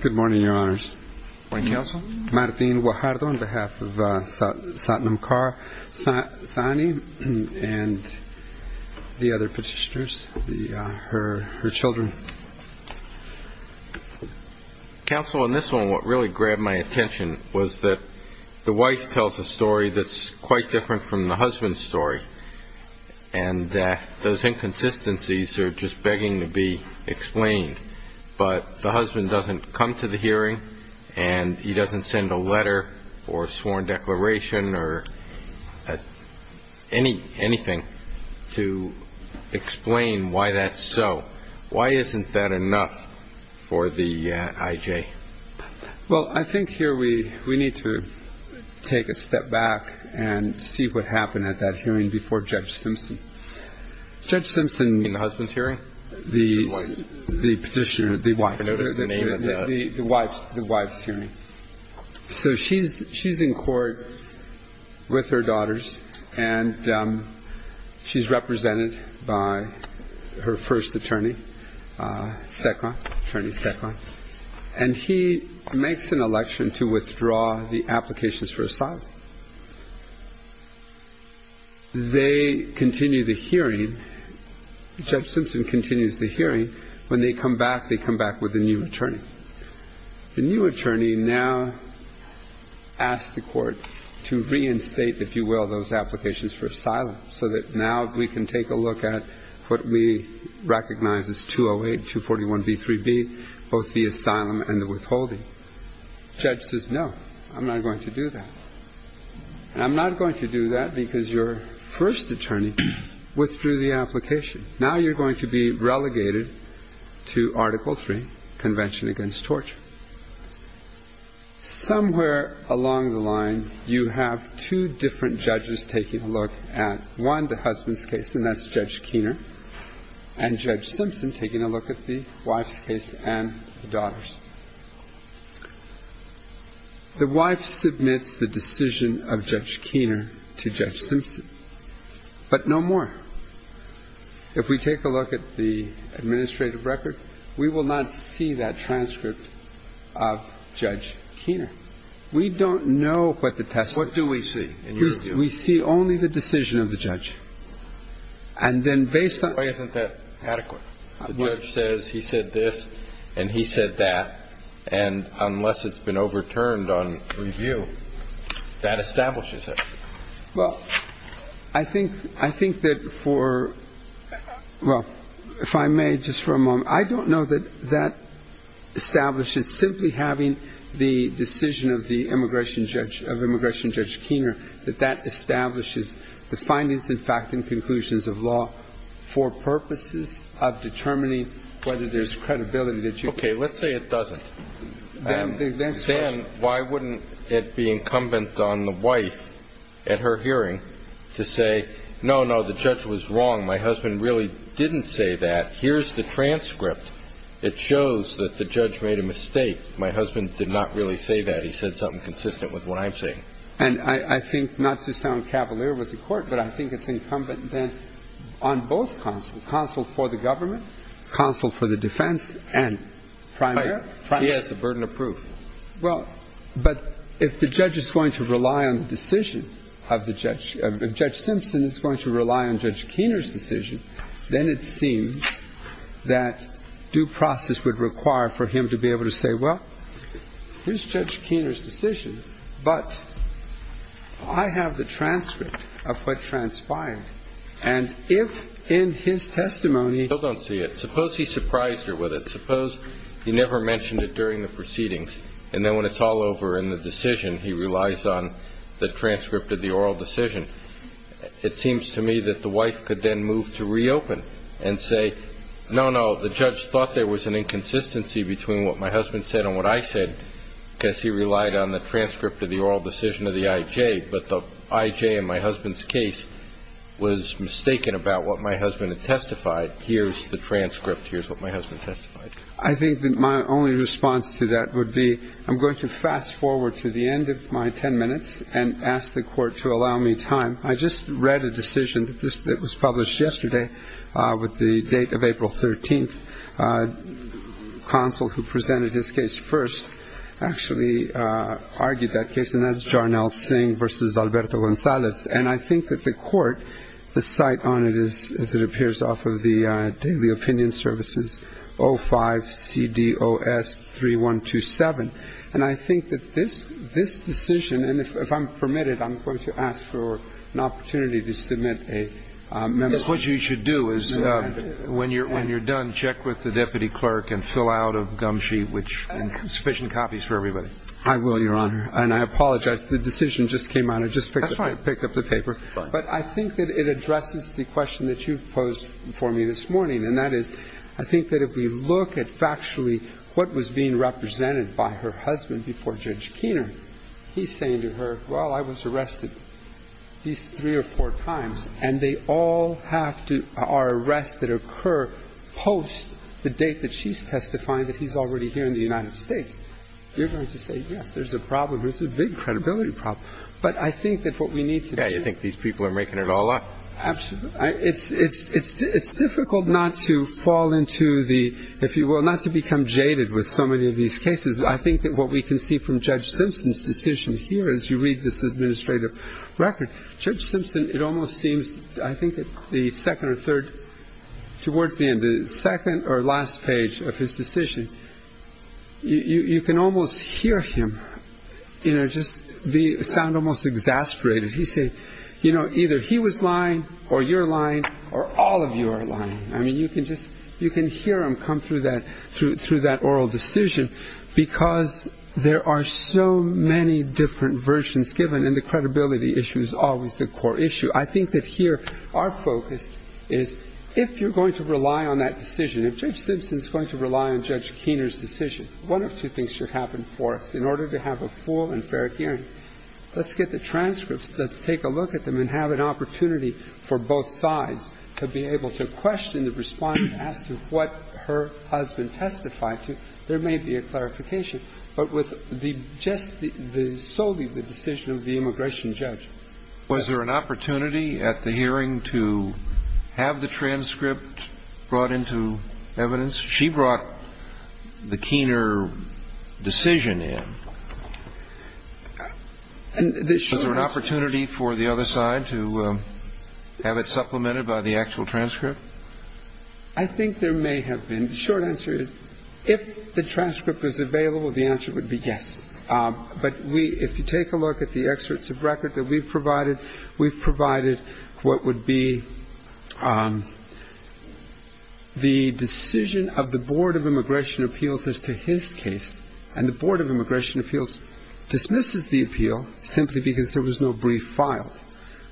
Good morning, Your Honors. Good morning, Counsel. Martin Guajardo on behalf of Satnam Kaur Saini and the other petitioners, her children. Counsel, in this one, what really grabbed my attention was that the wife tells a story that's quite different from the husband's story, and those inconsistencies are just begging to be explained. But the husband doesn't come to the hearing, and he doesn't send a letter or a sworn declaration or anything to explain why that's so. Why isn't that enough for the IJ? Well, I think here we need to take a step back and see what happened at that hearing before Judge Simpson. Judge Simpson... In the husband's hearing? The petitioner, the wife. I noticed the name of the... The wife's hearing. So she's in court with her daughters, and she's represented by her first attorney, Sekhon, Attorney Sekhon. And he makes an election to withdraw the applications for asylum. They continue the hearing. Judge Simpson continues the hearing. When they come back, they come back with a new attorney. The new attorney now asks the court to reinstate, if you will, those applications for asylum, so that now we can take a look at what we recognize as 208, 241b, 3b, both the asylum and the withholding. Judge says, no, I'm not going to do that. And I'm not going to do that because your first attorney withdrew the application. Now you're going to be relegated to Article III, Convention Against Torture. Somewhere along the line, you have two different judges taking a look at, one, the husband's case, and that's Judge Keener, and Judge Simpson taking a look at the wife's case and the daughter's. The wife submits the decision of Judge Keener to Judge Simpson, but no more. If we take a look at the administrative record, we will not see that transcript of Judge Keener. We don't know what the testimony is. What do we see in your view? We see only the decision of the judge. And then based on the judge says he said this and he said that, and unless it's been overturned on review, that establishes it. Well, I think that for, well, if I may, just for a moment. I don't know that that establishes simply having the decision of the immigration judge, of immigration judge Keener, that that establishes the findings and fact and conclusions of law for purposes of determining whether there's credibility that you can. Okay, let's say it doesn't. Then why wouldn't it be incumbent on the wife at her hearing to say, no, no, the judge was wrong. My husband really didn't say that. Here's the transcript. It shows that the judge made a mistake. My husband did not really say that. He said something consistent with what I'm saying. And I think not to sound cavalier with the Court, but I think it's incumbent then on both counsel, counsel for the government, counsel for the defense and primary. He has the burden of proof. Well, but if the judge is going to rely on the decision of the judge, if Judge Simpson is going to rely on Judge Keener's decision, then it seems that due process would require for him to be able to say, well, here's Judge Keener's decision, but I have the transcript of what transpired. And if in his testimony he doesn't see it, suppose he surprised her with it. Suppose he never mentioned it during the proceedings, and then when it's all over in the decision, he relies on the transcript of the oral decision. It seems to me that the wife could then move to reopen and say, no, no, the judge thought there was an inconsistency between what my husband said and what I said because he relied on the transcript of the oral decision of the I.J., but the I.J. in my husband's case was mistaken about what my husband had testified. Here's the transcript. Here's what my husband testified. I think that my only response to that would be I'm going to fast forward to the end of my 10 minutes and ask the Court to allow me time. I just read a decision that was published yesterday with the date of April 13th. And I think that the court, the site on it is, as it appears off of the daily opinion services, 05-CDOS-3127. And I think that this decision, and if I'm permitted, I'm going to ask for an opportunity to submit a memo. Yes. What you should do is when you're done, check with the defendant, the deputy clerk, and fill out a gum sheet with sufficient copies for everybody. I will, Your Honor. And I apologize. The decision just came out. I just picked up the paper. That's all right. But I think that it addresses the question that you posed for me this morning, and that is I think that if we look at factually what was being represented by her husband before Judge Keener, he's saying to her, well, I was arrested three or four times. And they all have to are arrests that occur post the date that she's testifying that he's already here in the United States. You're going to say, yes, there's a problem. There's a big credibility problem. But I think that what we need to do. Yeah, you think these people are making it all up. Absolutely. It's difficult not to fall into the, if you will, not to become jaded with so many of these cases. I think that what we can see from Judge Simpson's decision here, as you read this administrative record, Judge Simpson, it almost seems, I think the second or third, towards the end, the second or last page of his decision, you can almost hear him just sound almost exasperated. He said, you know, either he was lying or you're lying or all of you are lying. I mean, you can just, you can hear him come through that oral decision because there are so many different versions given. And the credibility issue is always the core issue. I think that here our focus is if you're going to rely on that decision, if Judge Simpson's going to rely on Judge Keener's decision, one of two things should happen for us in order to have a full and fair hearing. Let's get the transcripts. Let's take a look at them and have an opportunity for both sides to be able to question the response as to what her husband testified to. There may be a clarification. But with just solely the decision of the immigration judge. Was there an opportunity at the hearing to have the transcript brought into evidence? She brought the Keener decision in. Was there an opportunity for the other side to have it supplemented by the actual transcript? I think there may have been. I think the short answer is if the transcript was available, the answer would be yes. But if you take a look at the excerpts of record that we've provided, we've provided what would be the decision of the Board of Immigration Appeals as to his case. And the Board of Immigration Appeals dismisses the appeal simply because there was no brief filed.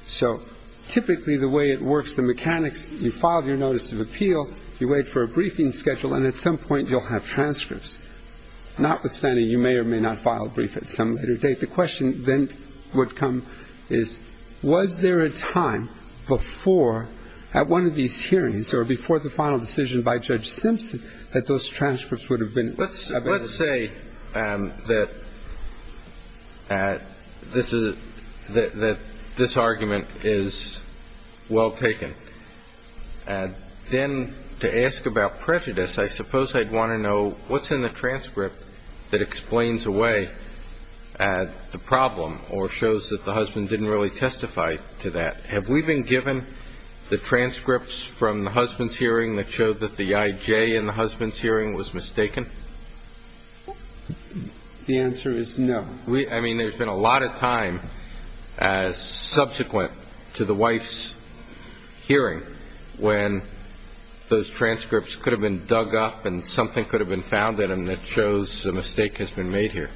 So typically the way it works, the mechanics, you file your notice of appeal, you wait for a briefing schedule, and at some point you'll have transcripts. Notwithstanding, you may or may not file a brief at some later date. The question then would come is, was there a time before at one of these hearings or before the final decision by Judge Simpson that those transcripts would have been available? Let's say that this argument is well taken. Then to ask about prejudice, I suppose I'd want to know, what's in the transcript that explains away the problem or shows that the husband didn't really testify to that? Have we been given the transcripts from the husband's hearing that showed that the I.J. in the husband's hearing was mistaken? The answer is no. I mean, there's been a lot of time as subsequent to the wife's hearing when those transcripts could have been dug up and something could have been found in them that shows a mistake has been made here.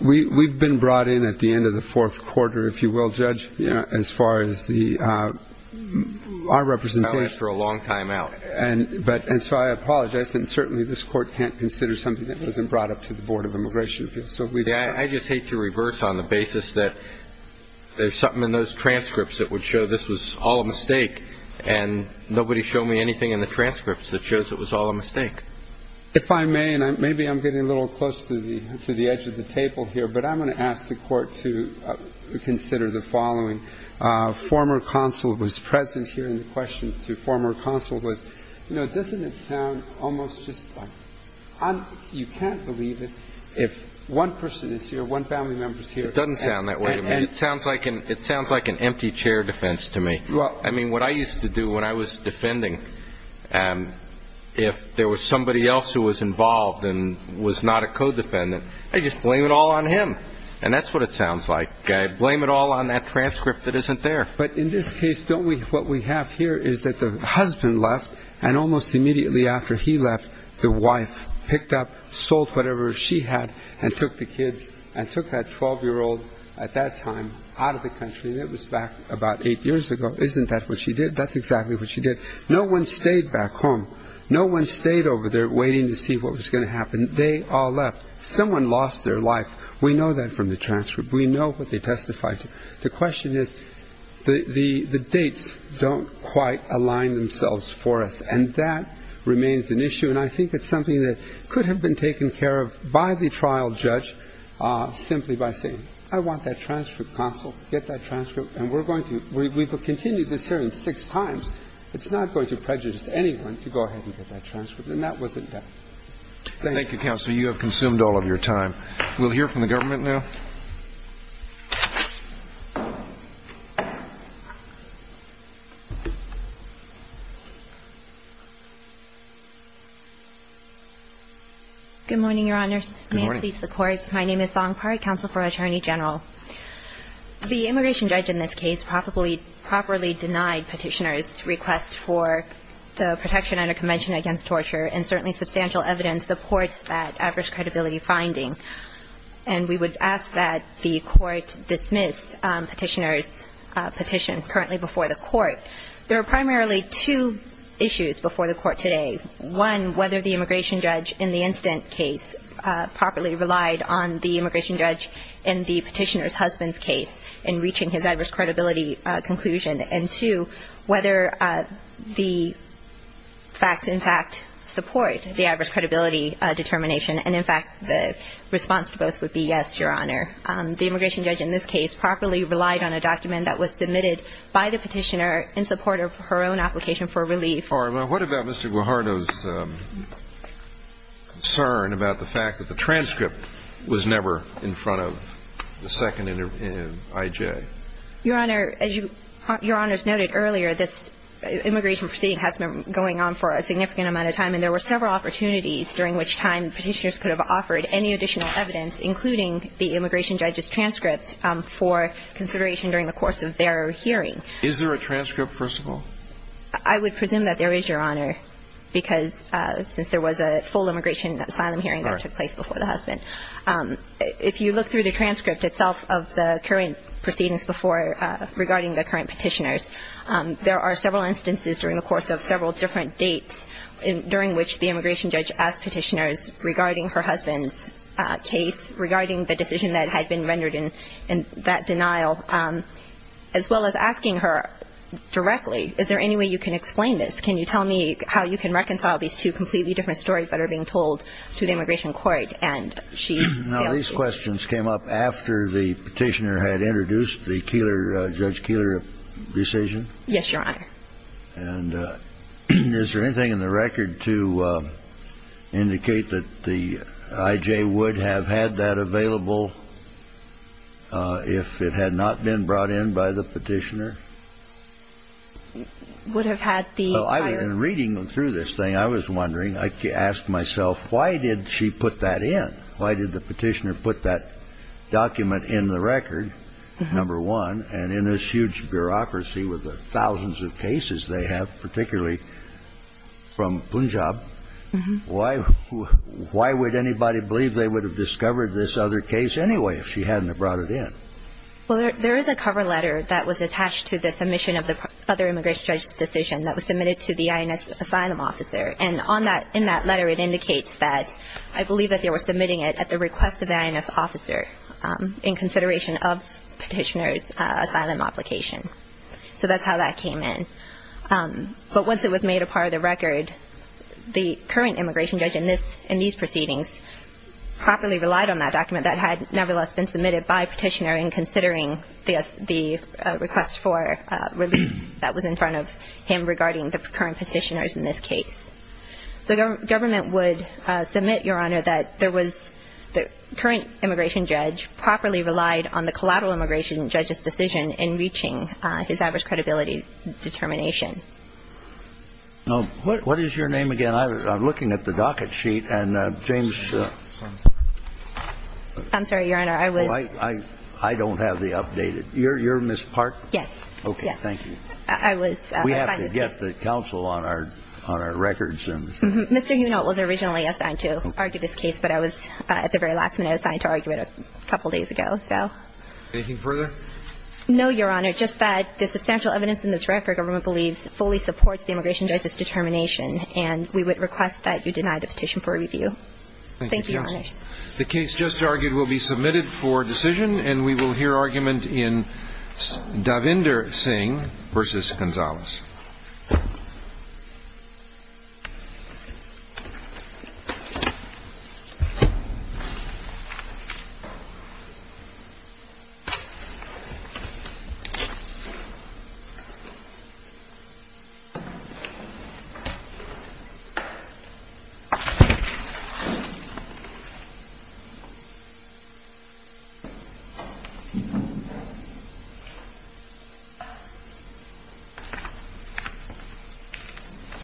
We've been brought in at the end of the fourth quarter, if you will, Judge, as far as our representation. That was for a long time out. And so I apologize. And certainly this Court can't consider something that wasn't brought up to the Board of Immigration Appeals. I just hate to reverse on the basis that there's something in those transcripts that would show this was all a mistake, and nobody showed me anything in the transcripts that shows it was all a mistake. If I may, and maybe I'm getting a little close to the edge of the table here, but I'm going to ask the Court to consider the following. Former consul was present here, and the question to former consul was, does it sound almost just like you can't believe it if one person is here, one family member is here. It doesn't sound that way to me. It sounds like an empty chair defense to me. I mean, what I used to do when I was defending, if there was somebody else who was involved and was not a co-defendant, I'd just blame it all on him. And that's what it sounds like. Blame it all on that transcript that isn't there. But in this case, what we have here is that the husband left, and almost immediately after he left, the wife picked up, sold whatever she had, and took the kids and took that 12-year-old at that time out of the country, and it was back about eight years ago. Isn't that what she did? That's exactly what she did. No one stayed back home. No one stayed over there waiting to see what was going to happen. They all left. Someone lost their life. We know that from the transcript. We know what they testified to. The question is the dates don't quite align themselves for us. And that remains an issue, and I think it's something that could have been taken care of by the trial judge simply by saying, I want that transcript, counsel. Get that transcript. And we're going to. We've continued this hearing six times. It's not going to prejudice anyone to go ahead and get that transcript. And that wasn't done. Thank you. Thank you, counsel. You have consumed all of your time. We'll hear from the government now. Good morning, Your Honors. Good morning. May it please the Court. My name is Song Pari, counsel for Attorney General. The immigration judge in this case probably properly denied petitioners' request for the protection under Convention Against Torture, and certainly substantial evidence supports that average credibility finding. Thank you. Thank you. Thank you. I'm going to start by saying that the Court dismissed petitioners' petition currently before the Court. There are primarily two issues before the Court today. One, whether the immigration judge in the incident case properly relied on the immigration judge in the petitioner's husband's case in reaching his average credibility conclusion, and, two, whether the facts, in fact, support the average credibility determination. And, in fact, the response to both would be yes, Your Honor. The immigration judge in this case properly relied on a document that was submitted by the petitioner in support of her own application for relief. All right. Well, what about Mr. Guajardo's concern about the fact that the transcript was never in front of the second I.J.? Your Honor, as Your Honors noted earlier, this immigration proceeding has been going on for a significant amount of time, and there were several opportunities during which time petitioners could have offered any additional evidence, including the immigration judge's transcript, for consideration during the course of their hearing. Is there a transcript, first of all? I would presume that there is, Your Honor, because since there was a full immigration asylum hearing that took place before the husband. If you look through the transcript itself of the current proceedings before regarding the current petitioners, there are several instances during the course of several different dates during which the immigration judge asked petitioners regarding her husband's case, regarding the decision that had been rendered in that denial, as well as asking her directly, is there any way you can explain this? Can you tell me how you can reconcile these two completely different stories that are being told to the immigration court? Now, these questions came up after the petitioner had introduced the Keillor, Judge Keillor decision? Yes, Your Honor. And is there anything in the record to indicate that the IJ would have had that available if it had not been brought in by the petitioner? Would have had the entire... Well, in reading through this thing, I was wondering, I asked myself, why did she put that in? Why did the petitioner put that document in the record, number one, and in this huge bureaucracy with the thousands of cases they have, particularly from Punjab, why would anybody believe they would have discovered this other case anyway if she hadn't have brought it in? Well, there is a cover letter that was attached to the submission of the other immigration judge's decision that was submitted to the INS asylum officer, and in that letter it indicates that, I believe that they were submitting it at the request of the INS officer in consideration of petitioner's asylum application. So that's how that came in. But once it was made a part of the record, the current immigration judge in these proceedings properly relied on that document that had nevertheless been submitted by petitioner in considering the request for release that was in front of him regarding the current petitioners in this case. So government would submit, Your Honor, that there was the current immigration judge properly relied on the collateral immigration judge's decision in reaching his average credibility determination. Now, what is your name again? I'm looking at the docket sheet, and James... I'm sorry, Your Honor. I was... I don't have the updated. You're Ms. Park? Yes. Okay. Thank you. I was assigned this case. We have to get the counsel on our records. Mr. Huno was originally assigned to argue this case, but I was, at the very last minute, assigned to argue it a couple days ago, so... Anything further? No, Your Honor. Just that the substantial evidence in this record, government believes, fully supports the immigration judge's determination, and we would request that you deny the petition for review. Thank you, Your Honor. Thank you, counsel. The case just argued will be submitted for decision, and we will hear argument in Davinder Singh v. Gonzalez. Thank you.